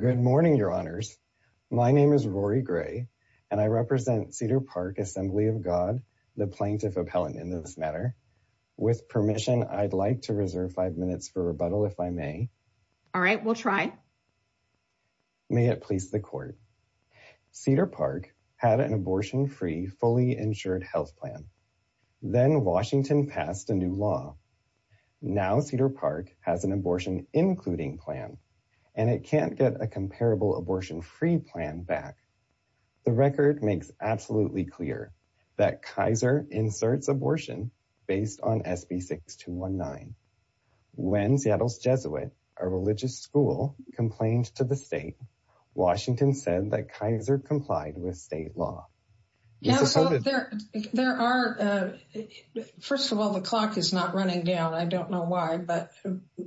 Good morning, your honors. My name is Rory Gray, and I represent Cedar Park Assembly of God, the plaintiff appellant in this matter. With permission, I'd like to reserve five minutes for rebuttal if I may. All right, we'll try. May it please the court. Cedar Park had an abortion free fully insured health plan. Then Washington passed a new law. Now Cedar Park has an abortion, including plan, and it can't get a comparable abortion free plan back. The record makes absolutely clear that Kaiser inserts abortion based on SB 6219. When Seattle's Jesuit, a religious school complained to the state, Washington said that Kaiser complied with state law. There are. First of all, the clock is not running down. I don't know why, but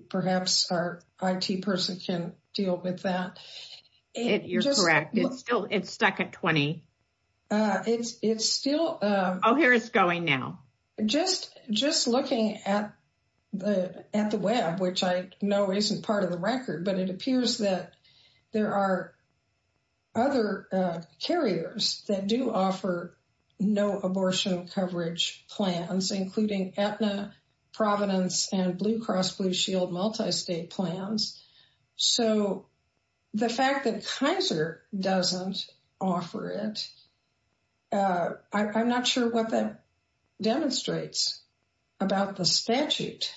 perhaps our IT person can deal with that. You're correct. It's still it's stuck at 20. It's it's still. Oh, here it's going now. Just just looking at the at the web, which I know isn't part of the record, but it appears that there are. Other carriers that do offer no abortion coverage plans, including Aetna, Providence and Blue Cross Blue Shield, multistate plans. So the fact that Kaiser doesn't offer it. I'm not sure what that demonstrates about the statute.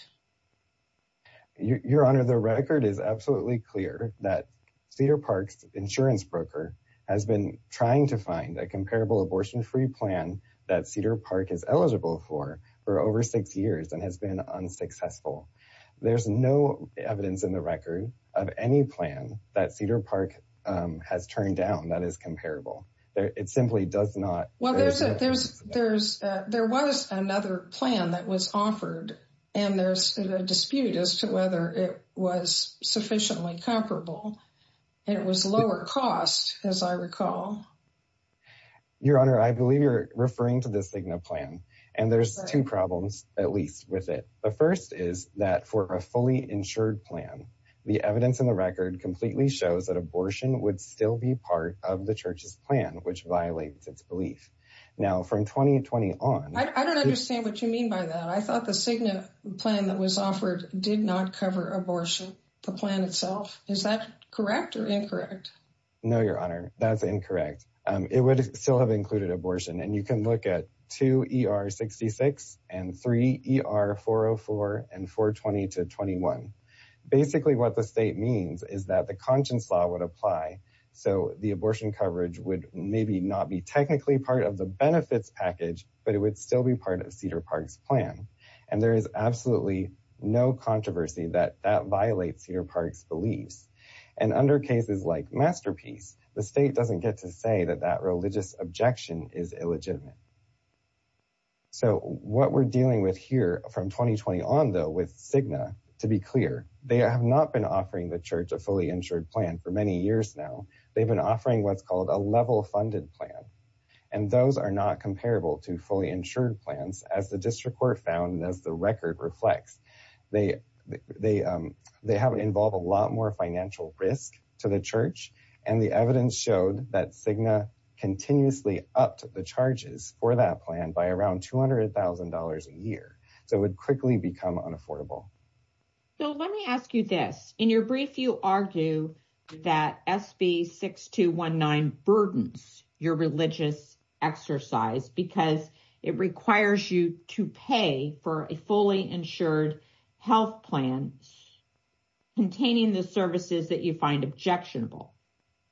Your Honor, the record is absolutely clear that Cedar Park's insurance broker has been trying to find a comparable abortion free plan that Cedar Park is eligible for for over six years and has been unsuccessful. There's no evidence in the record of any plan that Cedar Park has turned down that is comparable. It simply does not. Well, there's a there's there's there was another plan that was offered and there's a dispute as to whether it was sufficiently comparable. It was lower cost, as I recall. Your Honor, I believe you're referring to the Sigma plan and there's two problems, at least with it. The first is that for a fully insured plan, the evidence in the record completely shows that abortion would still be part of the church's plan, which violates its belief. Now, from 2020 on, I don't understand what you mean by that. I thought the Sigma plan that was offered did not cover abortion. The plan itself. Is that correct or incorrect? No, Your Honor, that's incorrect. It would still have included abortion. And you can look at two E.R. 66 and three E.R. 404 and 420 to 21. Basically, what the state means is that the conscience law would apply. So the abortion coverage would maybe not be technically part of the benefits package, but it would still be part of Cedar Park's plan. And there is absolutely no controversy that that violates Cedar Park's beliefs. And under cases like Masterpiece, the state doesn't get to say that that religious objection is illegitimate. So what we're dealing with here from 2020 on, though, with Sigma, to be clear, they have not been offering the church a fully insured plan for many years now. They've been offering what's called a level funded plan. And those are not comparable to fully insured plans. As the district court found, as the record reflects, they they they have involved a lot more financial risk to the church. And the evidence showed that Sigma continuously upped the charges for that plan by around two hundred thousand dollars a year. So it would quickly become unaffordable. So let me ask you this. In your brief, you argue that SB 6219 burdens your religious exercise because it requires you to pay for a fully insured health plan containing the services that you find objectionable.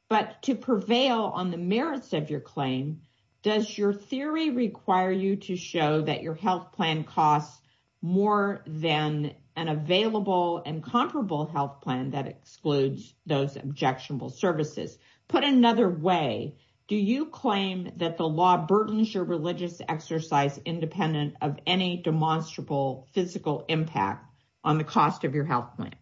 But to prevail on the merits of your claim, does your theory require you to show that your health plan costs more than an available and comparable health plan that excludes those objectionable services? Put another way, do you claim that the law burdens your religious exercise independent of any demonstrable physical impact on the cost of your health plan?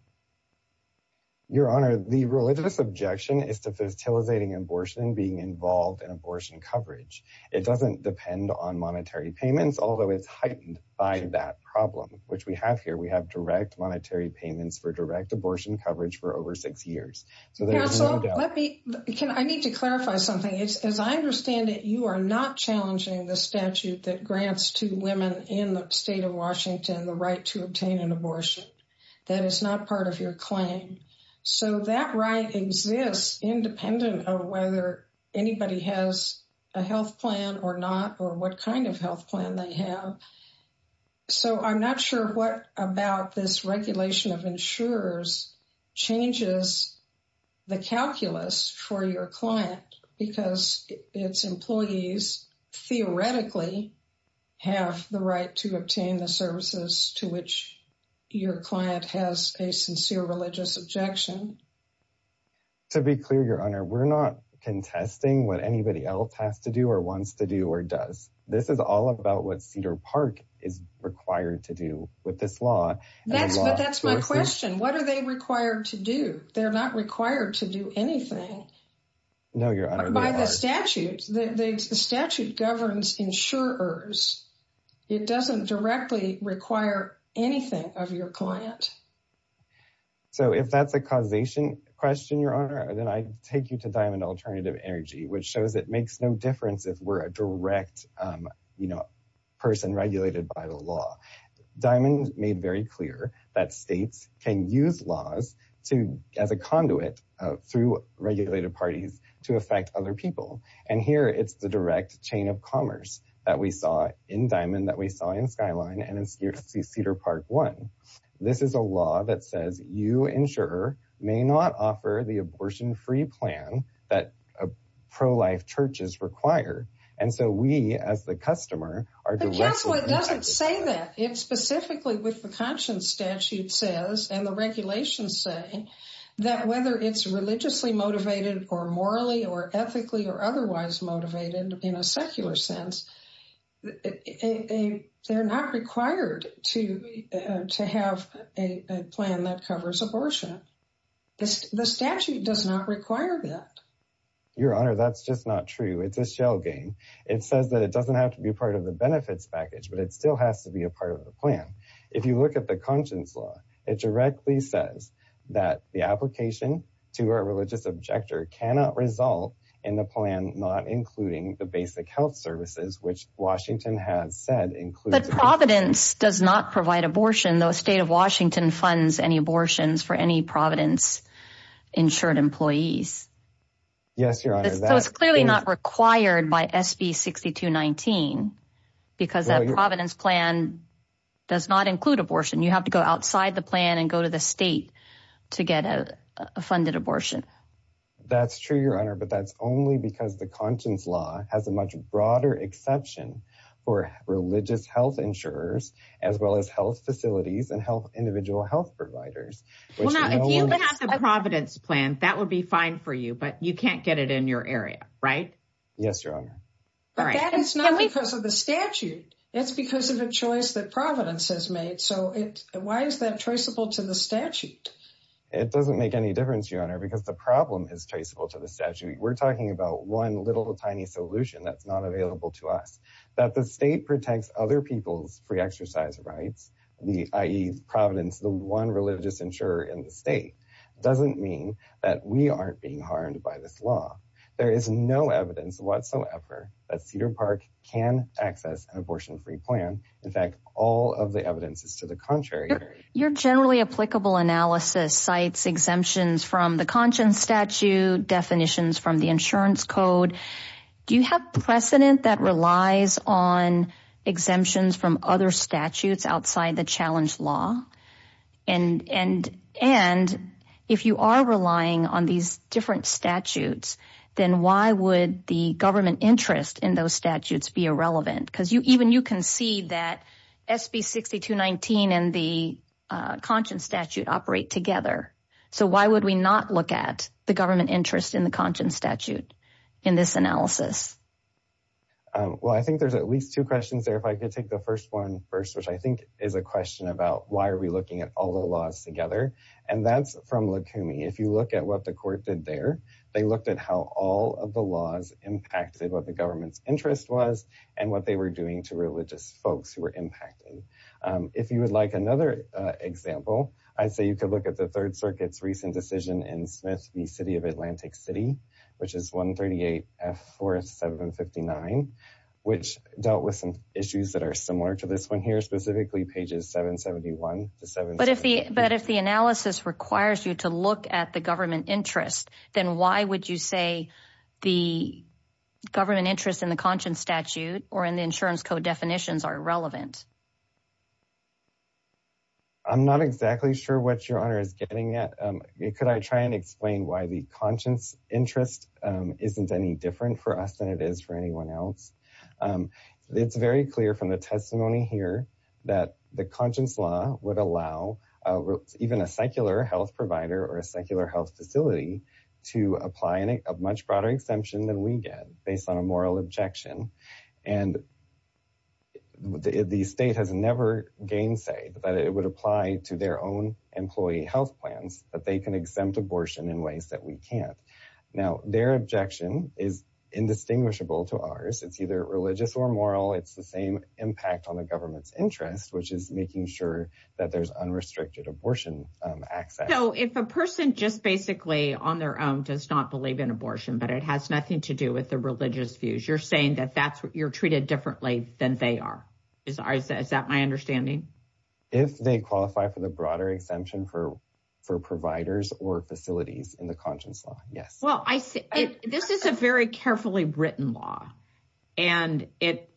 Your Honor, the religious objection is to fertilizing abortion and being involved in abortion coverage. It doesn't depend on monetary payments, although it's heightened by that problem, which we have here. We have direct monetary payments for direct abortion coverage for over six years. Counsel, I need to clarify something. As I understand it, you are not challenging the statute that grants to women in the state of Washington the right to obtain an abortion. That is not part of your claim. So that right exists independent of whether anybody has a health plan or not or what kind of health plan they have. So I'm not sure what about this regulation of insurers changes the calculus for your client because its employees theoretically have the right to obtain the services to which your client has a sincere religious objection. To be clear, Your Honor, we're not contesting what anybody else has to do or wants to do or does. This is all about what Cedar Park is required to do with this law. But that's my question. What are they required to do? They're not required to do anything. No, Your Honor. By the statute, the statute governs insurers. It doesn't directly require anything of your client. So if that's a causation question, Your Honor, then I take you to Diamond Alternative Energy, which shows it makes no difference if we're a direct person regulated by the law. Diamond made very clear that states can use laws as a conduit through regulated parties to affect other people. And here it's the direct chain of commerce that we saw in Diamond, that we saw in Skyline and in Cedar Park One. This is a law that says you insurer may not offer the abortion free plan that pro-life churches require. And so we, as the customer, are directly... The Council doesn't say that. It specifically with the Conscience Statute says, and the regulations say, that whether it's religiously motivated or morally or ethically or otherwise motivated in a secular sense, they're not required to have a plan that covers abortion. The statute does not require that. Your Honor, that's just not true. It's a shell game. It says that it doesn't have to be part of the benefits package, but it still has to be a part of the plan. If you look at the Conscience Law, it directly says that the application to our religious objector cannot result in the plan not including the basic health services, which Washington has said includes... But Providence does not provide abortion, though State of Washington funds any abortions for any Providence insured employees. Yes, Your Honor. So it's clearly not required by SB 6219 because that Providence plan does not include abortion. You have to go outside the plan and go to the state to get a funded abortion. That's true, Your Honor, but that's only because the Conscience Law has a much broader exception for religious health insurers, as well as health facilities and individual health providers. Well, now, if you could have the Providence plan, that would be fine for you, but you can't get it in your area, right? Yes, Your Honor. But that is not because of the statute. It's because of a choice that Providence has made. So why is that traceable to the statute? It doesn't make any difference, Your Honor, because the problem is traceable to the statute. We're talking about one little tiny solution that's not available to us. That the state protects other people's free exercise rights, i.e., Providence, the one religious insurer in the state, doesn't mean that we aren't being harmed by this law. There is no evidence whatsoever that Cedar Park can access an abortion-free plan. In fact, all of the evidence is to the contrary. Your generally applicable analysis cites exemptions from the Conscience Statute, definitions from the Insurance Code. Do you have precedent that relies on exemptions from other statutes outside the Challenge Law? And if you are relying on these different statutes, then why would the government interest in those statutes be irrelevant? Because even you can see that SB 6219 and the Conscience Statute operate together. So why would we not look at the government interest in the Conscience Statute in this analysis? Well, I think there's at least two questions there. If I could take the first one first, which I think is a question about why are we looking at all the laws together. And that's from Lukumi. If you look at what the court did there, they looked at how all of the laws impacted what the government's interest was and what they were doing to religious folks who were impacted. If you would like another example, I'd say you could look at the Third Circuit's recent decision in Smith v. City of Atlantic City, which is 138 F. 4759, which dealt with some issues that are similar to this one here, specifically pages 771 to 773. But if the analysis requires you to look at the government interest, then why would you say the government interest in the Conscience Statute or in the Insurance Code definitions are irrelevant? I'm not exactly sure what Your Honor is getting at. Could I try and explain why the conscience interest isn't any different for us than it is for anyone else? It's very clear from the testimony here that the conscience law would allow even a secular health provider or a secular health facility to apply a much broader exemption than we get based on a moral objection. And the state has never gainsay that it would apply to their own employee health plans that they can exempt abortion in ways that we can't. Now, their objection is indistinguishable to ours. It's either religious or moral. It's the same impact on the government's interest, which is making sure that there's unrestricted abortion access. So if a person just basically on their own does not believe in abortion, but it has nothing to do with the religious views, you're saying that you're treated differently than they are. Is that my understanding? If they qualify for the broader exemption for providers or facilities in the conscience law, yes. This is a very carefully written law, and it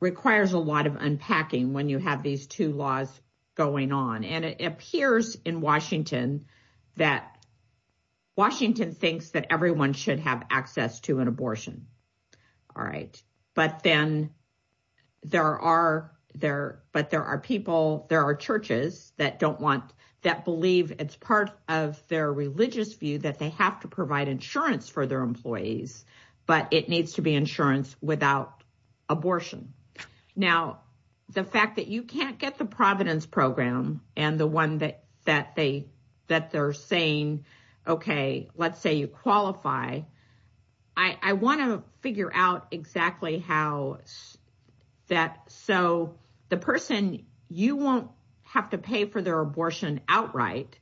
requires a lot of unpacking when you have these two laws going on. And it appears in Washington that Washington thinks that everyone should have access to an abortion. All right. But then there are people, there are churches that believe it's part of their religious view that they have to provide insurance for their employees, but it needs to be insurance without abortion. Now, the fact that you can't get the Providence program and the one that they're saying, okay, let's say you qualify. I want to figure out exactly how that so the person, you won't have to pay for their abortion outright,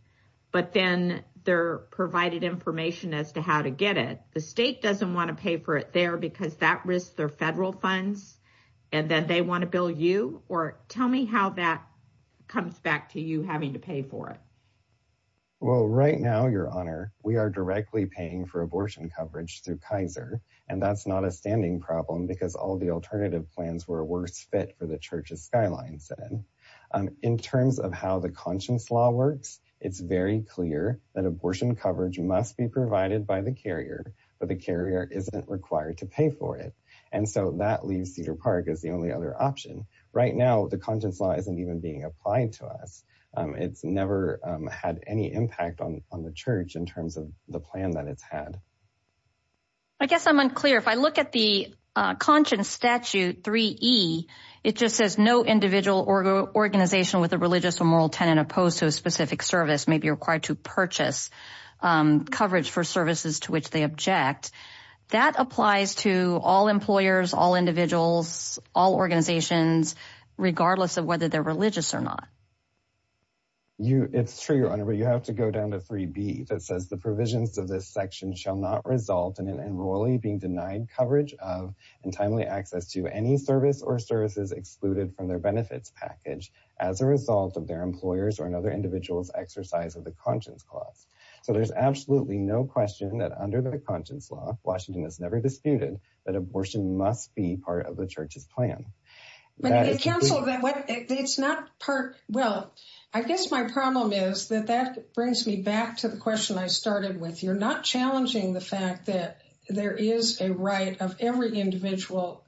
but then they're provided information as to how to get it. The state doesn't want to pay for it there because that risks their federal funds. And then they want to bill you or tell me how that comes back to you having to pay for it. Well, right now, Your Honor, we are directly paying for abortion coverage through Kaiser. And that's not a standing problem because all the alternative plans were a worse fit for the church's skyline. In terms of how the conscience law works, it's very clear that abortion coverage must be provided by the carrier, but the carrier isn't required to pay for it. And so that leaves Cedar Park as the only other option. Right now, the conscience law isn't even being applied to us. It's never had any impact on the church in terms of the plan that it's had. I guess I'm unclear. If I look at the conscience statute 3E, it just says no individual or organization with a religious or moral tenant opposed to a specific service may be required to purchase coverage for services to which they object. That applies to all employers, all individuals, all organizations, regardless of whether they're religious or not. It's true, Your Honor, but you have to go down to 3B that says the provisions of this section shall not result in an enrollee being denied coverage of and timely access to any service or services excluded from their benefits package as a result of their employers or another individual's exercise of the conscience clause. So there's absolutely no question that under the conscience law, Washington has never disputed that abortion must be part of the church's plan. Well, I guess my problem is that that brings me back to the question I started with. You're not challenging the fact that there is a right of every individual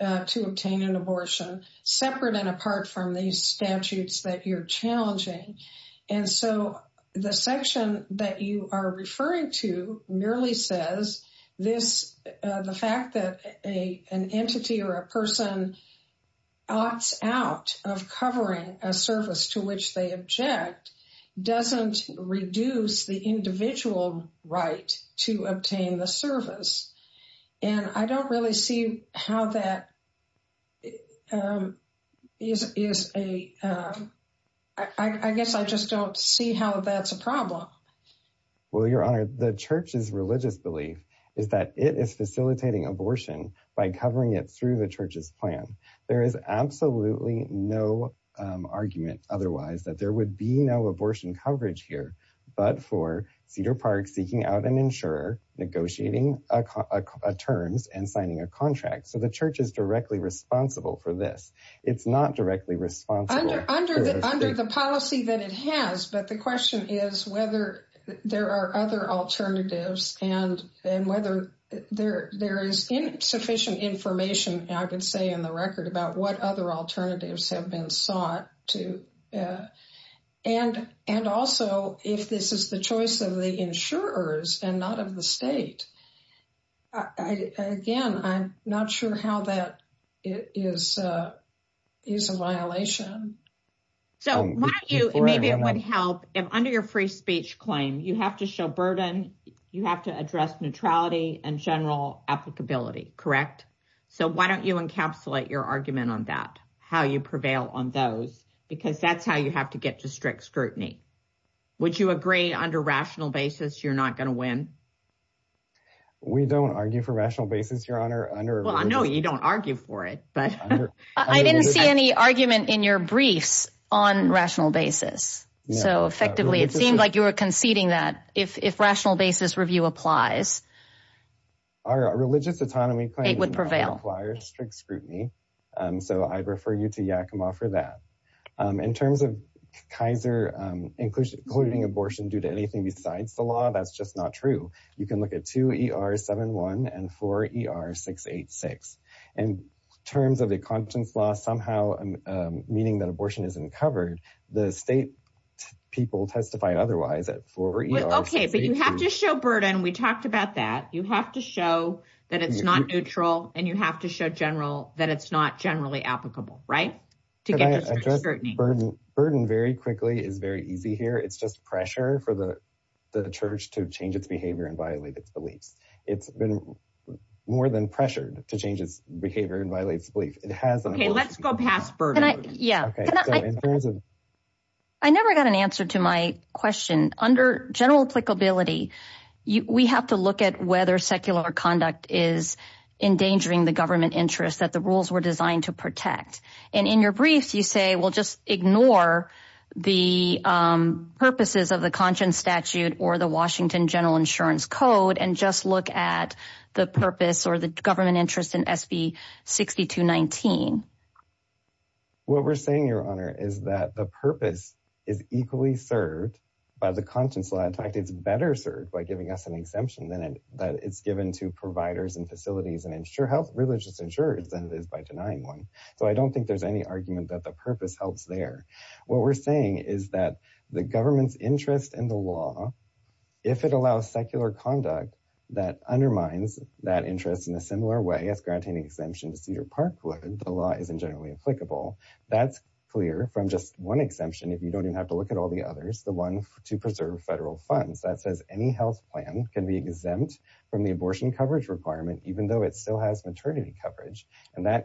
to obtain an abortion separate and apart from these statutes that you're challenging. And so the section that you are referring to merely says the fact that an entity or a person opts out of covering a service to which they object doesn't reduce the individual right to obtain the service. And I don't really see how that is. I guess I just don't see how that's a problem. Well, Your Honor, the church's religious belief is that it is facilitating abortion by covering it through the church's plan. There is absolutely no argument otherwise that there would be no abortion coverage here, but for Cedar Park seeking out an insurer, negotiating a terms and signing a contract. So the church is directly responsible for this. It's not directly responsible under the policy that it has. But the question is whether there are other alternatives and whether there is sufficient information, I would say, in the record about what other alternatives have been sought to. And also, if this is the choice of the insurers and not of the state, again, I'm not sure how that is a violation. So why don't you maybe it would help if under your free speech claim, you have to show burden. You have to address neutrality and general applicability. Correct. So why don't you encapsulate your argument on that, how you prevail on those, because that's how you have to get to strict scrutiny. Would you agree under rational basis you're not going to win? We don't argue for rational basis, Your Honor. Well, I know you don't argue for it, but I didn't see any argument in your briefs on rational basis. So effectively, it seemed like you were conceding that if rational basis review applies. Our religious autonomy claim would prevail. It requires strict scrutiny. So I'd refer you to Yakima for that. In terms of Kaiser including abortion due to anything besides the law, that's just not true. You can look at 2ER71 and 4ER686. And in terms of the Conscience Law somehow meaning that abortion isn't covered, the state people testified otherwise at 4ER686. Okay, but you have to show burden. We talked about that. You have to show that it's not neutral and you have to show general that it's not generally applicable, right? To get to strict scrutiny. Burden very quickly is very easy here. It's just pressure for the church to change its behavior and violate its beliefs. It's been more than pressured to change its behavior and violate its beliefs. Okay, let's go past burden. I never got an answer to my question. Under general applicability, we have to look at whether secular conduct is endangering the government interest that the rules were designed to protect. And in your brief, you say, well, just ignore the purposes of the Conscience Statute or the Washington General Insurance Code and just look at the purpose or the government interest in SB6219. What we're saying, Your Honor, is that the purpose is equally served by the Conscience Law. In fact, it's better served by giving us an exemption that it's given to providers and facilities and religious insurers than it is by denying one. So I don't think there's any argument that the purpose helps there. What we're saying is that the government's interest in the law, if it allows secular conduct that undermines that interest in a similar way as granting exemption to Cedar Park would, the law isn't generally applicable. That's clear from just one exemption, if you don't even have to look at all the others, the one to preserve federal funds. That says any health plan can be exempt from the abortion coverage requirement, even though it still has maternity coverage. I'm sorry,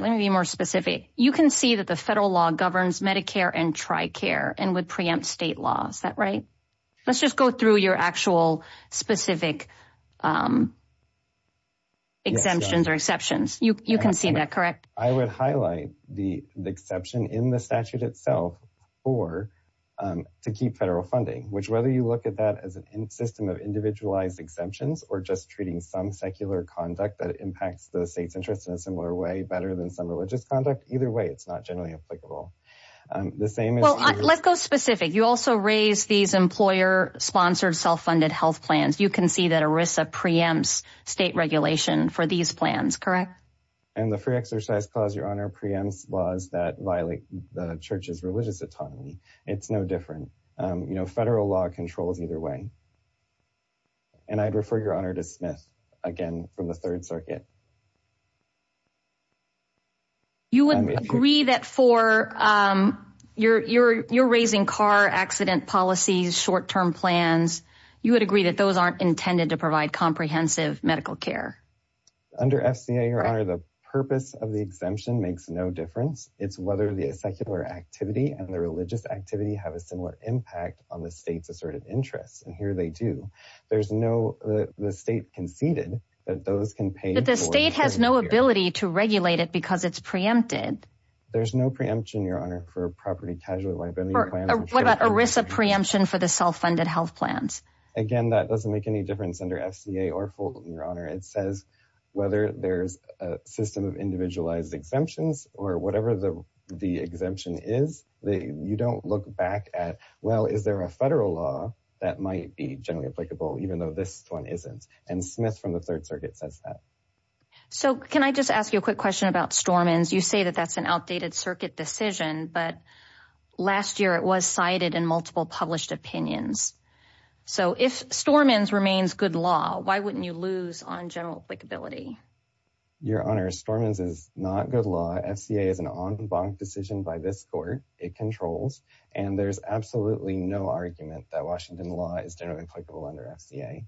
let me be more specific. You can see that the federal law governs Medicare and TRICARE and would preempt state laws. Is that right? Let's just go through your actual specific exemptions or exceptions. You can see that, correct? I would highlight the exception in the statute itself to keep federal funding, which whether you look at that as a system of individualized exemptions or just treating some secular conduct. That impacts the state's interest in a similar way, better than some religious conduct. Either way, it's not generally applicable. The same. Well, let's go specific. You also raise these employer-sponsored, self-funded health plans. You can see that ERISA preempts state regulation for these plans, correct? And the free exercise clause, Your Honor, preempts laws that violate the church's religious autonomy. It's no different. Federal law controls either way. And I'd refer, Your Honor, to Smith again from the Third Circuit. You would agree that for your raising car accident policies, short-term plans, you would agree that those aren't intended to provide comprehensive medical care. Under FCA, Your Honor, the purpose of the exemption makes no difference. It's whether the secular activity and the religious activity have a similar impact on the state's asserted interest. And here they do. There's no—the state conceded that those can pay for— But the state has no ability to regulate it because it's preempted. There's no preemption, Your Honor, for property casualty liability plans. What about ERISA preemption for the self-funded health plans? Again, that doesn't make any difference under FCA or Fulton, Your Honor. It says whether there's a system of individualized exemptions or whatever the exemption is. You don't look back at, well, is there a federal law that might be generally applicable even though this one isn't? And Smith from the Third Circuit says that. So can I just ask you a quick question about Stormins? You say that that's an outdated circuit decision, but last year it was cited in multiple published opinions. So if Stormins remains good law, why wouldn't you lose on general applicability? Your Honor, Stormins is not good law. FCA is an en banc decision by this court. It controls. And there's absolutely no argument that Washington law is generally applicable under FCA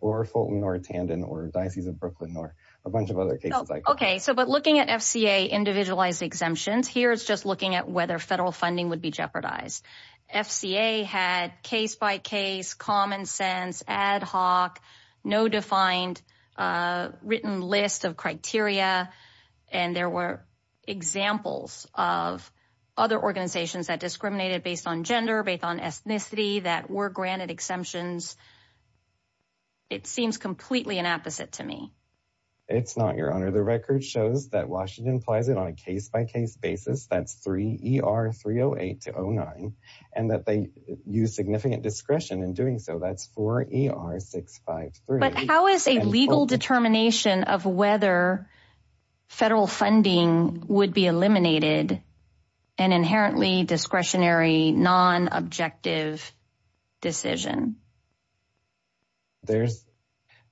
or Fulton or Tandon or Diocese of Brooklyn or a bunch of other cases. OK, so but looking at FCA individualized exemptions, here it's just looking at whether federal funding would be jeopardized. FCA had case by case, common sense, ad hoc, no defined written list of criteria. And there were examples of other organizations that discriminated based on gender, based on ethnicity that were granted exemptions. It seems completely an opposite to me. It's not, Your Honor. The record shows that Washington applies it on a case by case basis. That's 3 E.R. 308 to 09 and that they use significant discretion in doing so. That's 4 E.R. 653. But how is a legal determination of whether federal funding would be eliminated? An inherently discretionary, non-objective decision. There's,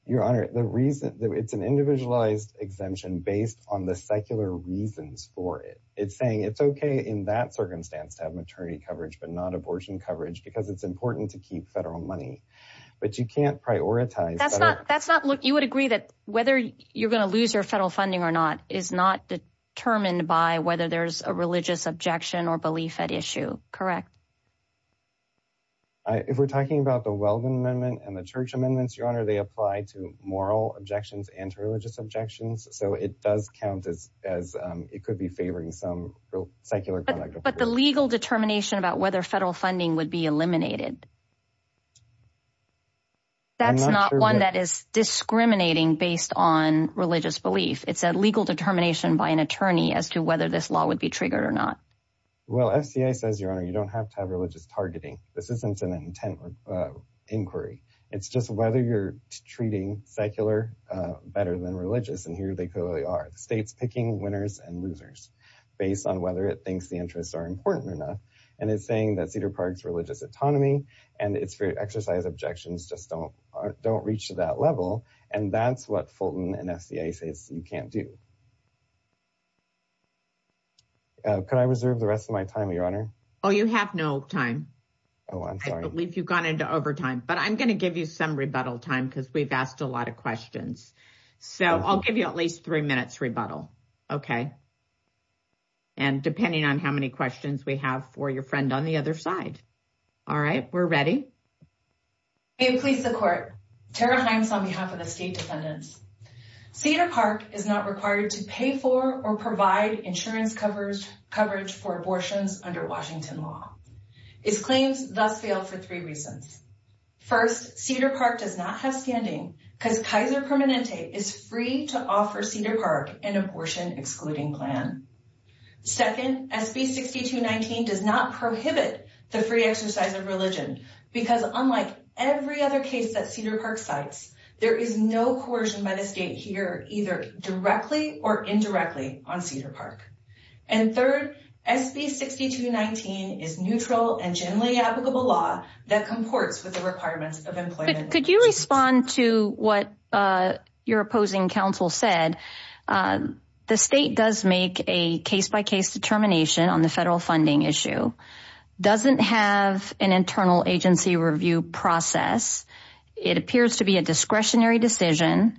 Your Honor, the reason it's an individualized exemption based on the secular reasons for it. It's saying it's OK in that circumstance to have maternity coverage, but not abortion coverage, because it's important to keep federal money. But you can't prioritize. That's not that's not. Look, you would agree that whether you're going to lose your federal funding or not is not determined by whether there's a religious objection or belief at issue. Correct. If we're talking about the Weldon Amendment and the church amendments, Your Honor, they apply to moral objections, anti-religious objections. So it does count as as it could be favoring some secular. But the legal determination about whether federal funding would be eliminated. That's not one that is discriminating based on religious belief. It's a legal determination by an attorney as to whether this law would be triggered or not. Well, FCA says, Your Honor, you don't have to have religious targeting. This isn't an intent inquiry. It's just whether you're treating secular better than religious. And here they clearly are. The state's picking winners and losers based on whether it thinks the interests are important enough. And it's saying that Cedar Park's religious autonomy and its exercise objections just don't don't reach that level. And that's what Fulton and FCA says you can't do. Could I reserve the rest of my time, Your Honor? Oh, you have no time. Oh, I believe you've gone into overtime. But I'm going to give you some rebuttal time because we've asked a lot of questions. So I'll give you at least three minutes rebuttal. And depending on how many questions we have for your friend on the other side. All right. We're ready. May it please the court. Tara Hines on behalf of the state defendants. Cedar Park is not required to pay for or provide insurance coverage for abortions under Washington law. Its claims thus fail for three reasons. First, Cedar Park does not have standing because Kaiser Permanente is free to offer Cedar Park an abortion excluding plan. Second, SB 6219 does not prohibit the free exercise of religion because unlike every other case that Cedar Park cites, there is no coercion by the state here either directly or indirectly on Cedar Park. And third, SB 6219 is neutral and generally applicable law that comports with the requirements of employment. Could you respond to what your opposing counsel said? The state does make a case by case determination on the federal funding issue. Doesn't have an internal agency review process. It appears to be a discretionary decision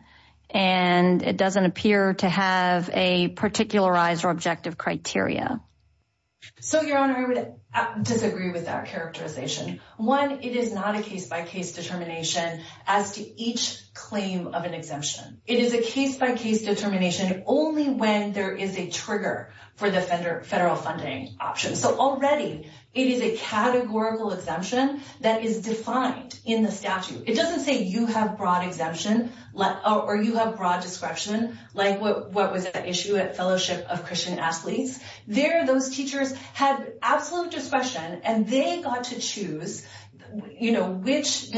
and it doesn't appear to have a particularized or objective criteria. So, Your Honor, I would disagree with that characterization. One, it is not a case by case determination as to each claim of an exemption. It is a case by case determination only when there is a trigger for the federal funding option. So, already it is a categorical exemption that is defined in the statute. It doesn't say you have broad exemption or you have broad discretion like what was at issue at Fellowship of Christian Athletes. There, those teachers had absolute discretion and they got to choose which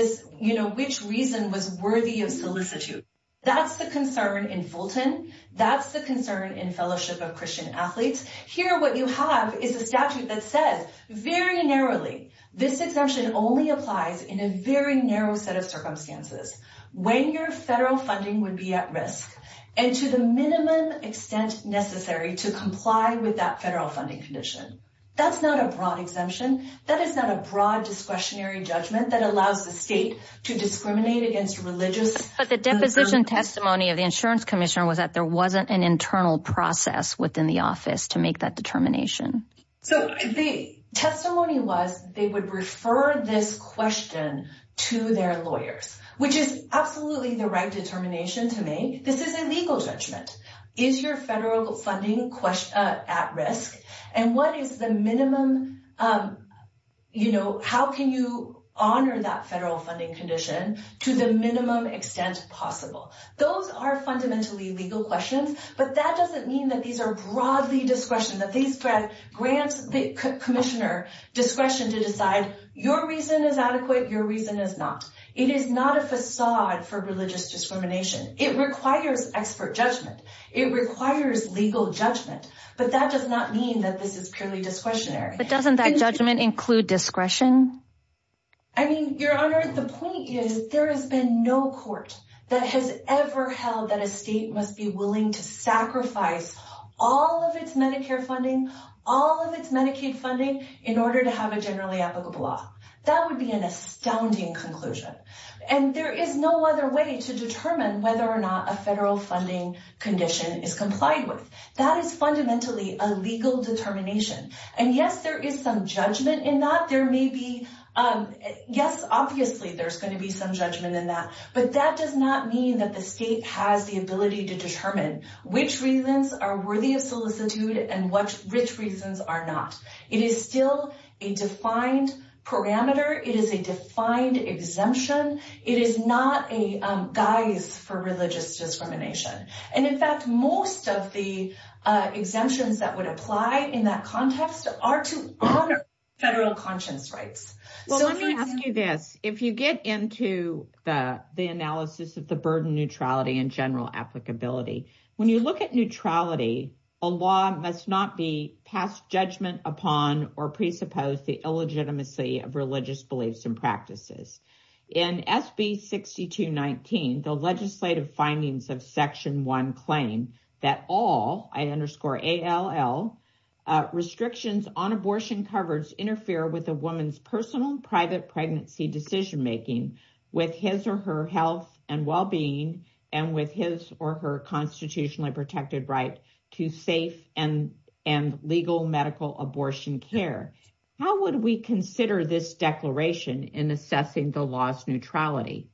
reason was worthy of solicitude. That's the concern in Fulton. That's the concern in Fellowship of Christian Athletes. Here, what you have is a statute that says very narrowly this exemption only applies in a very narrow set of circumstances. When your federal funding would be at risk and to the minimum extent necessary to comply with that federal funding condition. That's not a broad exemption. That is not a broad discretionary judgment that allows the state to discriminate against religious. But the deposition testimony of the insurance commissioner was that there wasn't an internal process within the office to make that determination. So, the testimony was they would refer this question to their lawyers, which is absolutely the right determination to make. This is a legal judgment. Is your federal funding at risk? And what is the minimum, you know, how can you honor that federal funding condition to the minimum extent possible? Those are fundamentally legal questions, but that doesn't mean that these are broadly discretion. That these grants commissioner discretion to decide your reason is adequate, your reason is not. It is not a facade for religious discrimination. It requires expert judgment. It requires legal judgment. But that does not mean that this is purely discretionary. But doesn't that judgment include discretion? I mean, Your Honor, the point is there has been no court that has ever held that a state must be willing to sacrifice all of its Medicare funding, all of its Medicaid funding in order to have a generally applicable law. That would be an astounding conclusion. And there is no other way to determine whether or not a federal funding condition is complied with. That is fundamentally a legal determination. And yes, there is some judgment in that. There may be, yes, obviously there's going to be some judgment in that. But that does not mean that the state has the ability to determine which reasons are worthy of solicitude and which reasons are not. It is still a defined parameter. It is a defined exemption. It is not a guise for religious discrimination. And in fact, most of the exemptions that would apply in that context are to honor federal conscience rights. Well, let me ask you this. If you get into the analysis of the burden neutrality and general applicability, when you look at neutrality, a law must not be passed judgment upon or presuppose the illegitimacy of religious beliefs and practices. In SB 6219, the legislative findings of Section 1 claim that all, I underscore ALL, restrictions on abortion coverage interfere with a woman's personal private pregnancy decision making with his or her health and well-being and with his or her constitutionally protected right to safe and legal medical abortion care. How would we consider this declaration in assessing the law's neutrality?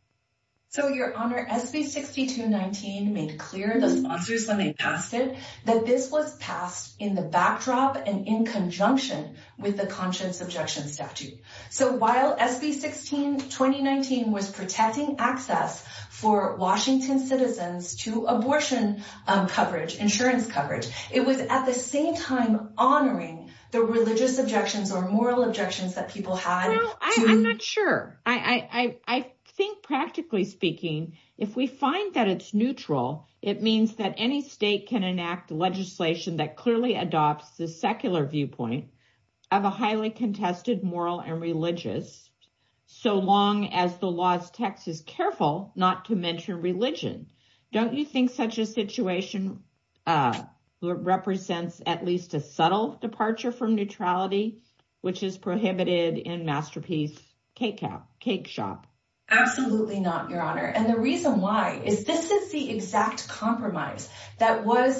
So, Your Honor, SB 6219 made clear the sponsors when they passed it that this was passed in the backdrop and in conjunction with the conscience objection statute. So while SB 6219 was protecting access for Washington citizens to abortion coverage, insurance coverage, it was at the same time honoring the religious objections or moral objections that people had. I'm not sure. I think, practically speaking, if we find that it's neutral, it means that any state can enact legislation that clearly adopts the secular viewpoint of a highly contested moral and religious, so long as the law's text is careful not to mention religion. Don't you think such a situation represents at least a subtle departure from neutrality, which is prohibited in Masterpiece Cake Shop? Absolutely not, Your Honor. And the reason why is this is the exact compromise that was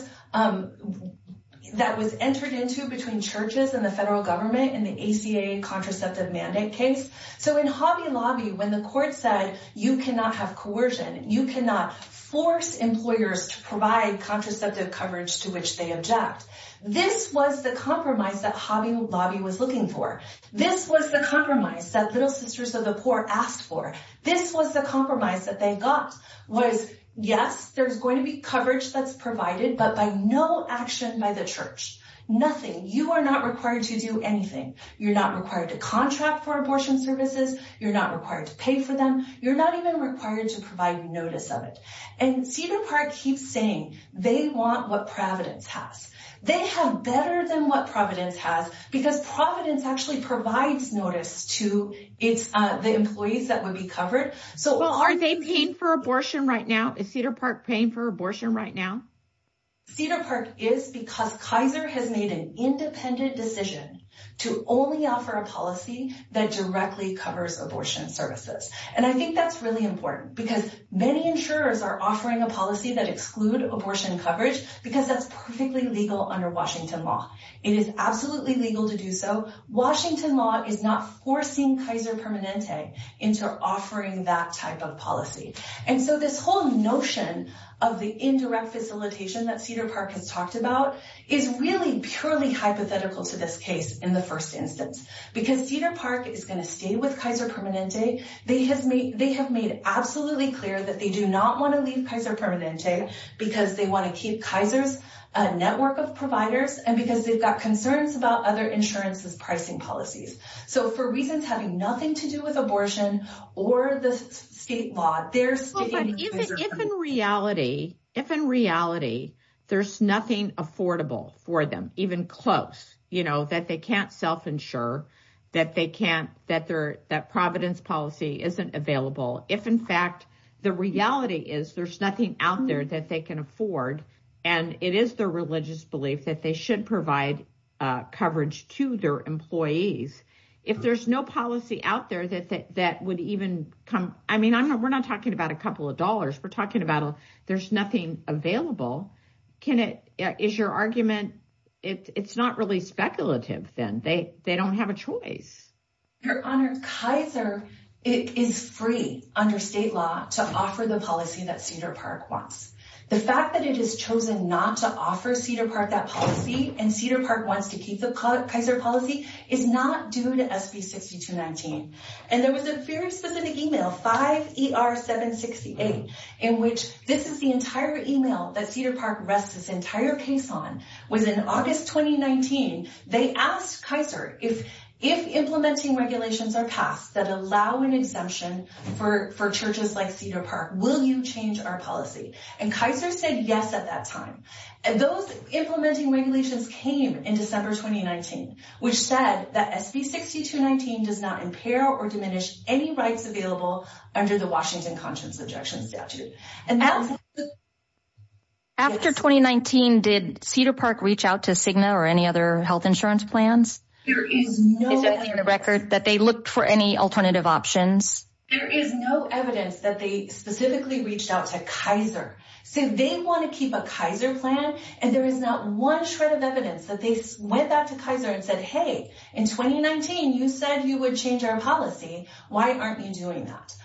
entered into between churches and the federal government in the ACA contraceptive mandate case. So in Hobby Lobby, when the court said you cannot have coercion, you cannot force employers to provide contraceptive coverage to which they object, this was the compromise that Hobby Lobby was looking for. This was the compromise that Little Sisters of the Poor asked for. This was the compromise that they got was, yes, there's going to be coverage that's provided, but by no action by the church. Nothing. You are not required to do anything. You're not required to contract for abortion services. You're not required to pay for them. You're not even required to provide notice of it. And Cedar Park keeps saying they want what Providence has. They have better than what Providence has because Providence actually provides notice to the employees that would be covered. Well, are they paying for abortion right now? Is Cedar Park paying for abortion right now? Cedar Park is because Kaiser has made an independent decision to only offer a policy that directly covers abortion services. And I think that's really important because many insurers are offering a policy that exclude abortion coverage because that's perfectly legal under Washington law. It is absolutely legal to do so. Washington law is not forcing Kaiser Permanente into offering that type of policy. And so this whole notion of the indirect facilitation that Cedar Park has talked about is really purely hypothetical to this case in the first instance, because Cedar Park is going to stay with Kaiser Permanente. They have made absolutely clear that they do not want to leave Kaiser Permanente because they want to keep Kaiser's network of providers and because they've got concerns about other insurances pricing policies. So for reasons having nothing to do with abortion or the state law, they're staying with Kaiser Permanente. If in reality, if in reality, there's nothing affordable for them, even close, you know, that they can't self-insure, that they can't, that Providence policy isn't available. If, in fact, the reality is there's nothing out there that they can afford and it is their religious belief that they should provide coverage to their employees. If there's no policy out there that that would even come. I mean, we're not talking about a couple of dollars. We're talking about there's nothing available. Can it is your argument? It's not really speculative, then they don't have a choice. Your Honor, Kaiser is free under state law to offer the policy that Cedar Park wants. The fact that it is chosen not to offer Cedar Park that policy and Cedar Park wants to keep the Kaiser policy is not due to SB 6219. And there was a very specific email, 5ER768, in which this is the entire email that Cedar Park rests its entire case on was in August 2019. They asked Kaiser if implementing regulations are passed that allow an exemption for churches like Cedar Park, will you change our policy? And Kaiser said yes at that time. And those implementing regulations came in December 2019, which said that SB 6219 does not impair or diminish any rights available under the Washington Conscience Ejection Statute. After 2019, did Cedar Park reach out to Cigna or any other health insurance plans? There is no record that they looked for any alternative options. There is no evidence that they specifically reached out to Kaiser. So they want to keep a Kaiser plan, and there is not one shred of evidence that they went back to Kaiser and said, hey, in 2019, you said you would change our policy. Why aren't you doing that?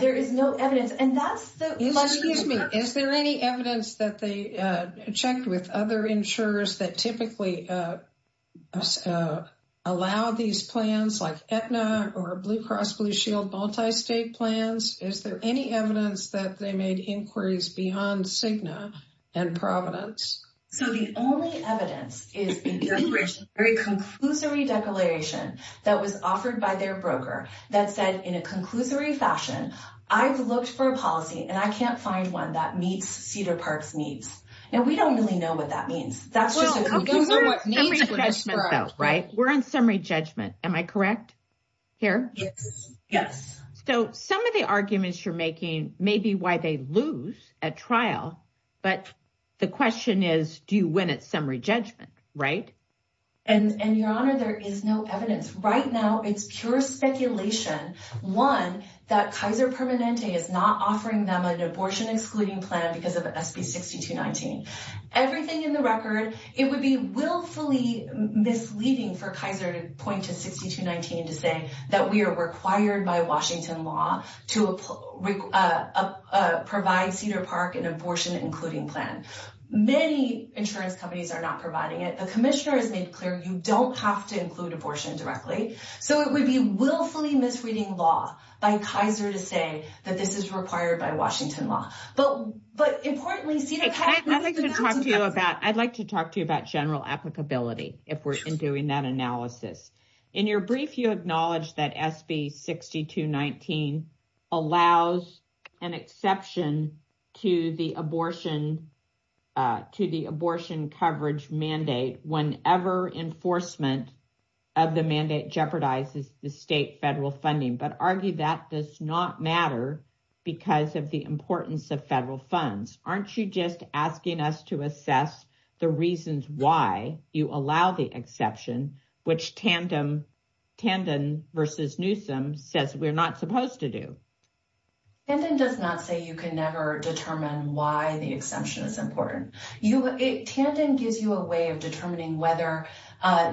There is no evidence. Excuse me, is there any evidence that they checked with other insurers that typically allow these plans like Aetna or Blue Cross Blue Shield multi-state plans? Is there any evidence that they made inquiries beyond Cigna and Providence? So the only evidence is a very conclusory declaration that was offered by their broker that said, in a conclusory fashion, I've looked for a policy, and I can't find one that meets Cedar Park's needs. And we don't really know what that means. That's just a conclusion. We're on summary judgment, though, right? We're on summary judgment. Am I correct here? Yes. So some of the arguments you're making may be why they lose at trial, but the question is, do you win at summary judgment, right? And, Your Honor, there is no evidence. Right now, it's pure speculation. One, that Kaiser Permanente is not offering them an abortion-excluding plan because of SB 6219. Everything in the record, it would be willfully misleading for Kaiser to point to 6219 to say that we are required by Washington law to provide Cedar Park an abortion-including plan. Many insurance companies are not providing it. The commissioner has made clear you don't have to include abortion directly. So it would be willfully misreading law by Kaiser to say that this is required by Washington law. But, importantly, Cedar Park. I'd like to talk to you about general applicability if we're doing that analysis. In your brief, you acknowledged that SB 6219 allows an exception to the abortion coverage mandate whenever enforcement of the mandate jeopardizes the state federal funding. But argue that does not matter because of the importance of federal funds. Aren't you just asking us to assess the reasons why you allow the exception, which Tandon v. Newsom says we're not supposed to do? Tandon does not say you can never determine why the exception is important. Tandon gives you a way of determining whether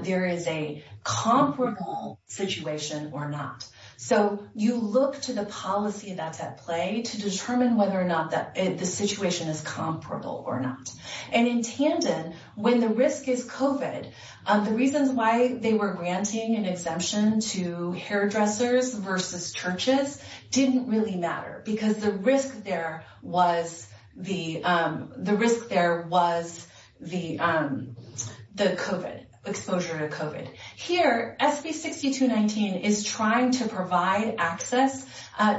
there is a comparable situation or not. So you look to the policy that's at play to determine whether or not the situation is comparable or not. And in Tandon, when the risk is COVID, the reasons why they were granting an exemption to hairdressers versus churches didn't really matter because the risk there was the COVID exposure to COVID. Here, SB 6219 is trying to provide access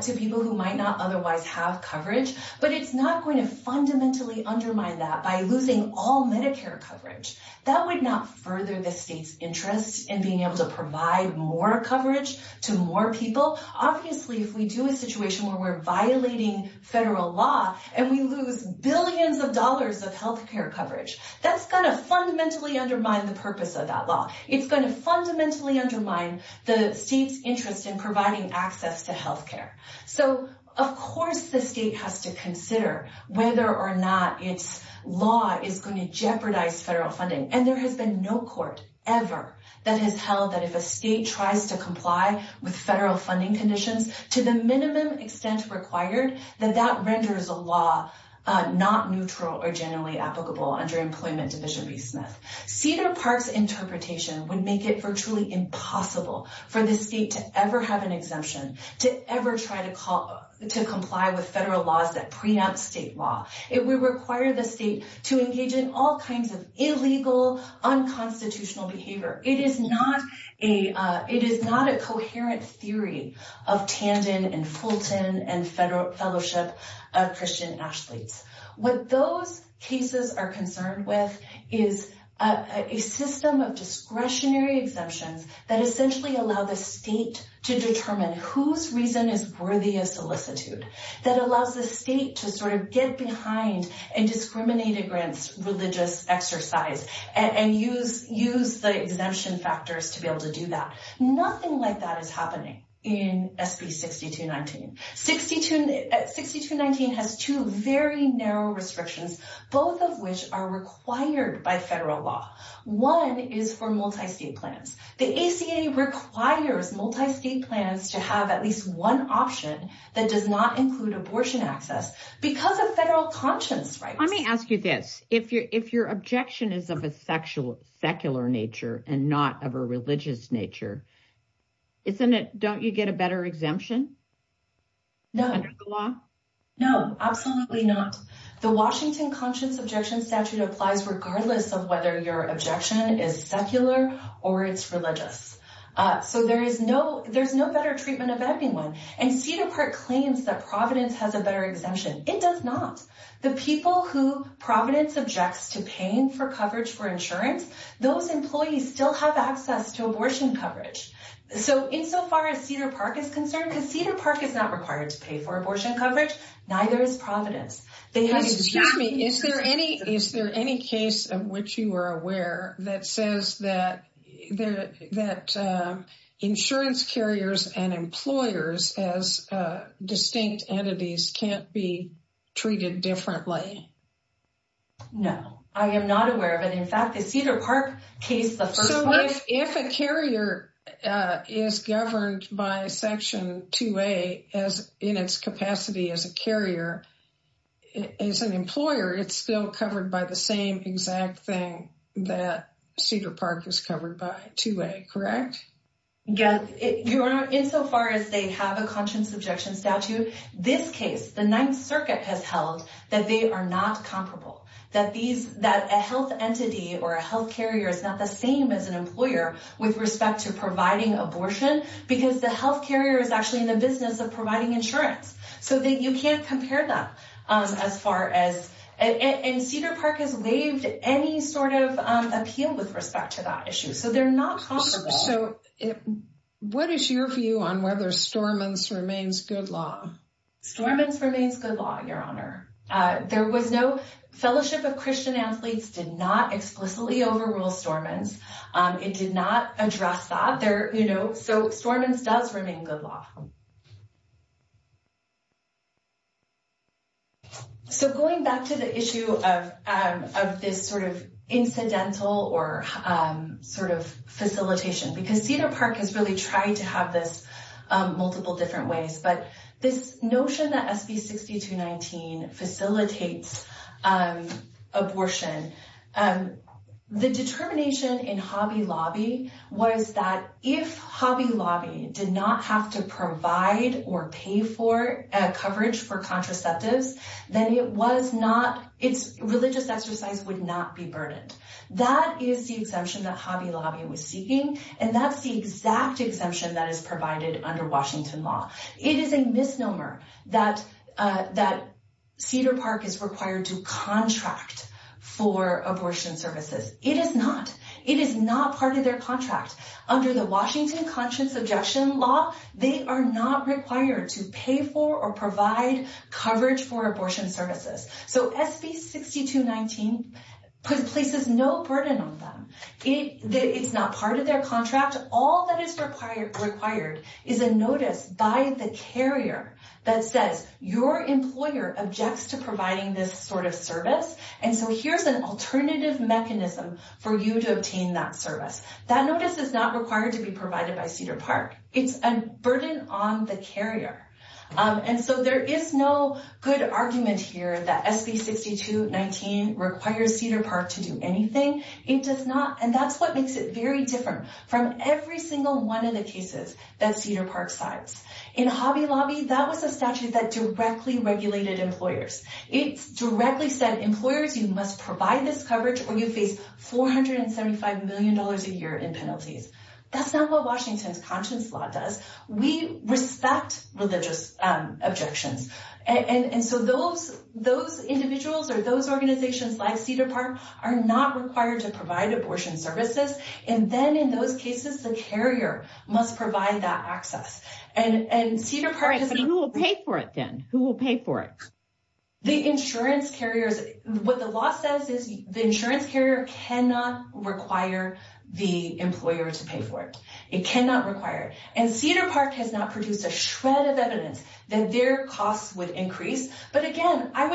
to people who might not otherwise have coverage. But it's not going to fundamentally undermine that by losing all Medicare coverage. That would not further the state's interest in being able to provide more coverage to more people. Obviously, if we do a situation where we're violating federal law and we lose billions of dollars of health care coverage, that's going to fundamentally undermine the purpose of that law. It's going to fundamentally undermine the state's interest in providing access to health care. So, of course, the state has to consider whether or not its law is going to jeopardize federal funding. And there has been no court ever that has held that if a state tries to comply with federal funding conditions to the minimum extent required, that that renders a law not neutral or generally applicable under Employment Division v. Smith. Cedar Park's interpretation would make it virtually impossible for the state to ever have an exemption, to ever try to comply with federal laws that preempt state law. It would require the state to engage in all kinds of illegal, unconstitutional behavior. It is not a coherent theory of Tandon and Fulton and fellowship of Christian athletes. What those cases are concerned with is a system of discretionary exemptions that essentially allow the state to determine whose reason is worthy of solicitude. That allows the state to sort of get behind and discriminate against religious exercise and use the exemption factors to be able to do that. Nothing like that is happening in SB 6219. 6219 has two very narrow restrictions, both of which are required by federal law. One is for multi-state plans. The ACA requires multi-state plans to have at least one option that does not include abortion access because of federal conscience rights. Let me ask you this. If your objection is of a secular nature and not of a religious nature, don't you get a better exemption under the law? No, absolutely not. The Washington Conscience Objection Statute applies regardless of whether your objection is secular or it's religious. So there's no better treatment of anyone. And Cedar Park claims that Providence has a better exemption. It does not. The people who Providence objects to paying for coverage for insurance, those employees still have access to abortion coverage. So insofar as Cedar Park is concerned, because Cedar Park is not required to pay for abortion coverage, neither is Providence. Excuse me, is there any case of which you are aware that says that insurance carriers and employers as distinct entities can't be treated differently? No, I am not aware of it. So if a carrier is governed by Section 2A in its capacity as a carrier, as an employer, it's still covered by the same exact thing that Cedar Park is covered by, 2A, correct? Insofar as they have a Conscience Objection Statute, this case, the Ninth Circuit has held that they are not comparable. That a health entity or a health carrier is not the same as an employer with respect to providing abortion, because the health carrier is actually in the business of providing insurance. So you can't compare them. And Cedar Park has waived any sort of appeal with respect to that issue. So they're not comparable. So what is your view on whether Stormont's remains good law? Stormont's remains good law, Your Honor. There was no—Fellowship of Christian Athletes did not explicitly overrule Stormont's. It did not address that. So Stormont's does remain good law. So going back to the issue of this sort of incidental or sort of facilitation, because Cedar Park has really tried to have this multiple different ways. But this notion that SB 6219 facilitates abortion, the determination in Hobby Lobby was that if Hobby Lobby did not have to provide or pay for coverage for contraceptives, then it was not—its religious exercise would not be burdened. That is the exemption that Hobby Lobby was seeking. And that's the exact exemption that is provided under Washington law. It is a misnomer that Cedar Park is required to contract for abortion services. It is not. It is not part of their contract. Under the Washington Conscience Objection Law, they are not required to pay for or provide coverage for abortion services. So SB 6219 places no burden on them. It's not part of their contract. All that is required is a notice by the carrier that says your employer objects to providing this sort of service. And so here's an alternative mechanism for you to obtain that service. That notice is not required to be provided by Cedar Park. It's a burden on the carrier. And so there is no good argument here that SB 6219 requires Cedar Park to do anything. And that's what makes it very different from every single one of the cases that Cedar Park signs. In Hobby Lobby, that was a statute that directly regulated employers. It directly said employers, you must provide this coverage or you face $475 million a year in penalties. That's not what Washington's conscience law does. We respect religious objections. And so those individuals or those organizations like Cedar Park are not required to provide abortion services. And then in those cases, the carrier must provide that access. And Cedar Park is- But who will pay for it then? Who will pay for it? The insurance carriers, what the law says is the insurance carrier cannot require the employer to pay for it. It cannot require it. And Cedar Park has not produced a shred of evidence that their costs would increase. But again, I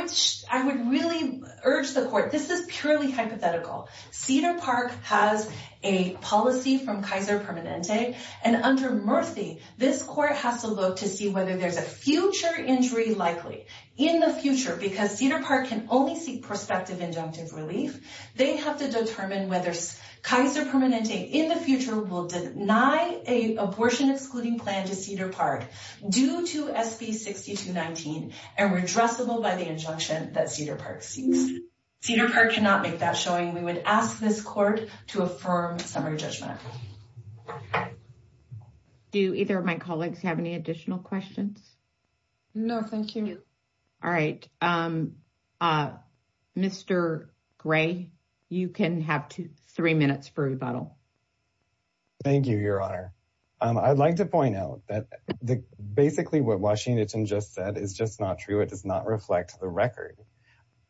would really urge the court- This is purely hypothetical. Cedar Park has a policy from Kaiser Permanente. And under Murphy, this court has to look to see whether there's a future injury likely in the future. Because Cedar Park can only seek prospective inductive relief. They have to determine whether Kaiser Permanente in the future will deny an abortion excluding plan to Cedar Park due to SB 6219 and redressable by the injunction that Cedar Park seeks. Cedar Park cannot make that showing. We would ask this court to affirm summary judgment. Do either of my colleagues have any additional questions? No, thank you. All right. Mr. Gray, you can have three minutes for rebuttal. Thank you, Your Honor. I'd like to point out that basically what Washington just said is just not true. It does not reflect the record.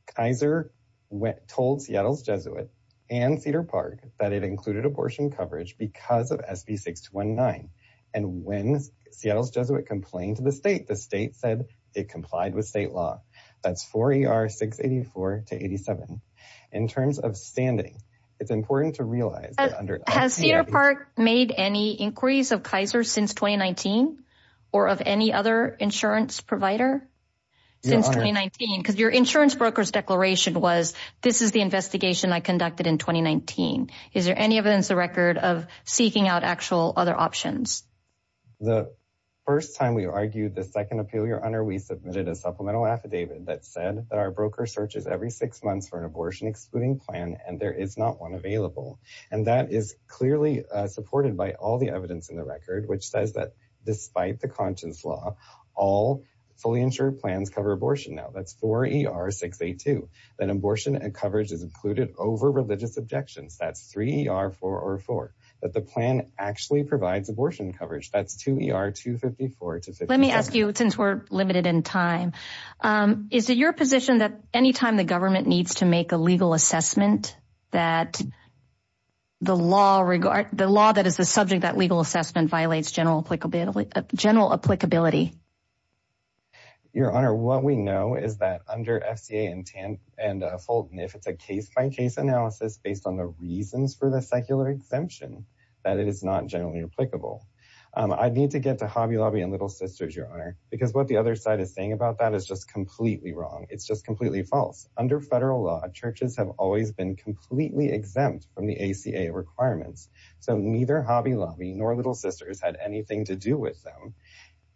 Kaiser told Seattle's Jesuit and Cedar Park that it included abortion coverage because of SB 6219. And when Seattle's Jesuit complained to the state, the state said it complied with state law. That's 4ER 684 to 87. In terms of standing, it's important to realize that under... Has Cedar Park made any inquiries of Kaiser since 2019 or of any other insurance provider since 2019? Because your insurance broker's declaration was this is the investigation I conducted in 2019. Is there any evidence or record of seeking out actual other options? The first time we argued the second appeal, Your Honor, we submitted a supplemental affidavit that said that our broker searches every six months for an abortion-excluding plan and there is not one available. And that is clearly supported by all the evidence in the record, which says that despite the conscience law, all fully insured plans cover abortion now. That's 4ER 682. That abortion and coverage is included over religious objections. That's 3ER 404. That the plan actually provides abortion coverage. That's 2ER 254 to 57. Let me ask you, since we're limited in time, is it your position that anytime the government needs to make a legal assessment that the law that is the subject of that legal assessment violates general applicability? Your Honor, what we know is that under FCA and Fulton, if it's a case-by-case analysis based on the reasons for the secular exemption, that it is not generally applicable. I need to get to Hobby Lobby and Little Sisters, Your Honor, because what the other side is saying about that is just completely wrong. It's just completely false. Under federal law, churches have always been completely exempt from the ACA requirements. So neither Hobby Lobby nor Little Sisters had anything to do with them.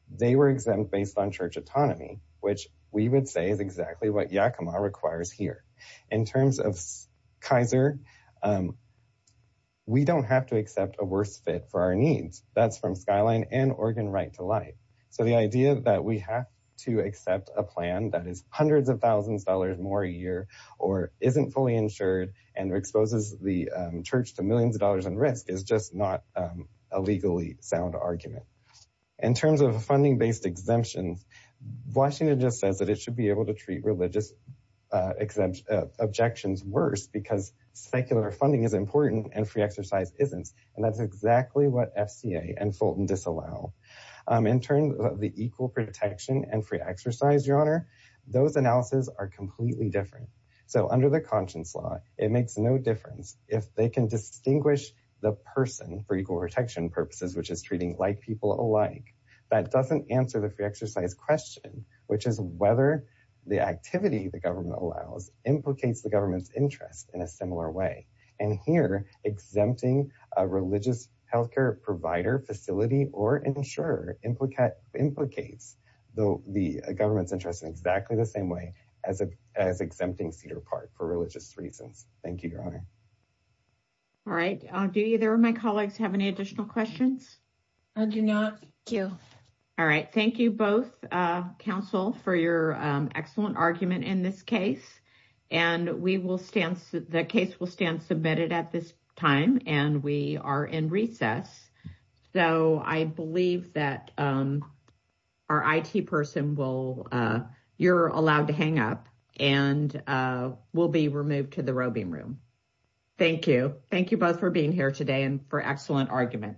They were exempt based on church autonomy, which we would say is exactly what Yakima requires here. In terms of Kaiser, we don't have to accept a worse fit for our needs. That's from Skyline and Oregon Right to Life. So the idea that we have to accept a plan that is hundreds of thousands of dollars more a year or isn't fully insured and exposes the church to millions of dollars in risk is just not a legally sound argument. In terms of funding-based exemptions, Washington just says that it should be able to treat religious objections worse because secular funding is important and free exercise isn't. And that's exactly what FCA and Fulton disallow. In terms of the equal protection and free exercise, Your Honor, those analyses are completely different. So under the conscience law, it makes no difference if they can distinguish the person for equal protection purposes, which is treating like people alike. That doesn't answer the free exercise question, which is whether the activity the government allows implicates the government's interest in a similar way. And here, exempting a religious health care provider facility or insurer implicates the government's interest in exactly the same way as exempting Cedar Park for religious reasons. Thank you, Your Honor. All right. Do either of my colleagues have any additional questions? I do not. Thank you. All right. Thank you both, counsel, for your excellent argument in this case. And the case will stand submitted at this time, and we are in recess. So I believe that our IT person will, you're allowed to hang up and will be removed to the roving room. Thank you. Thank you both for being here today and for excellent argument.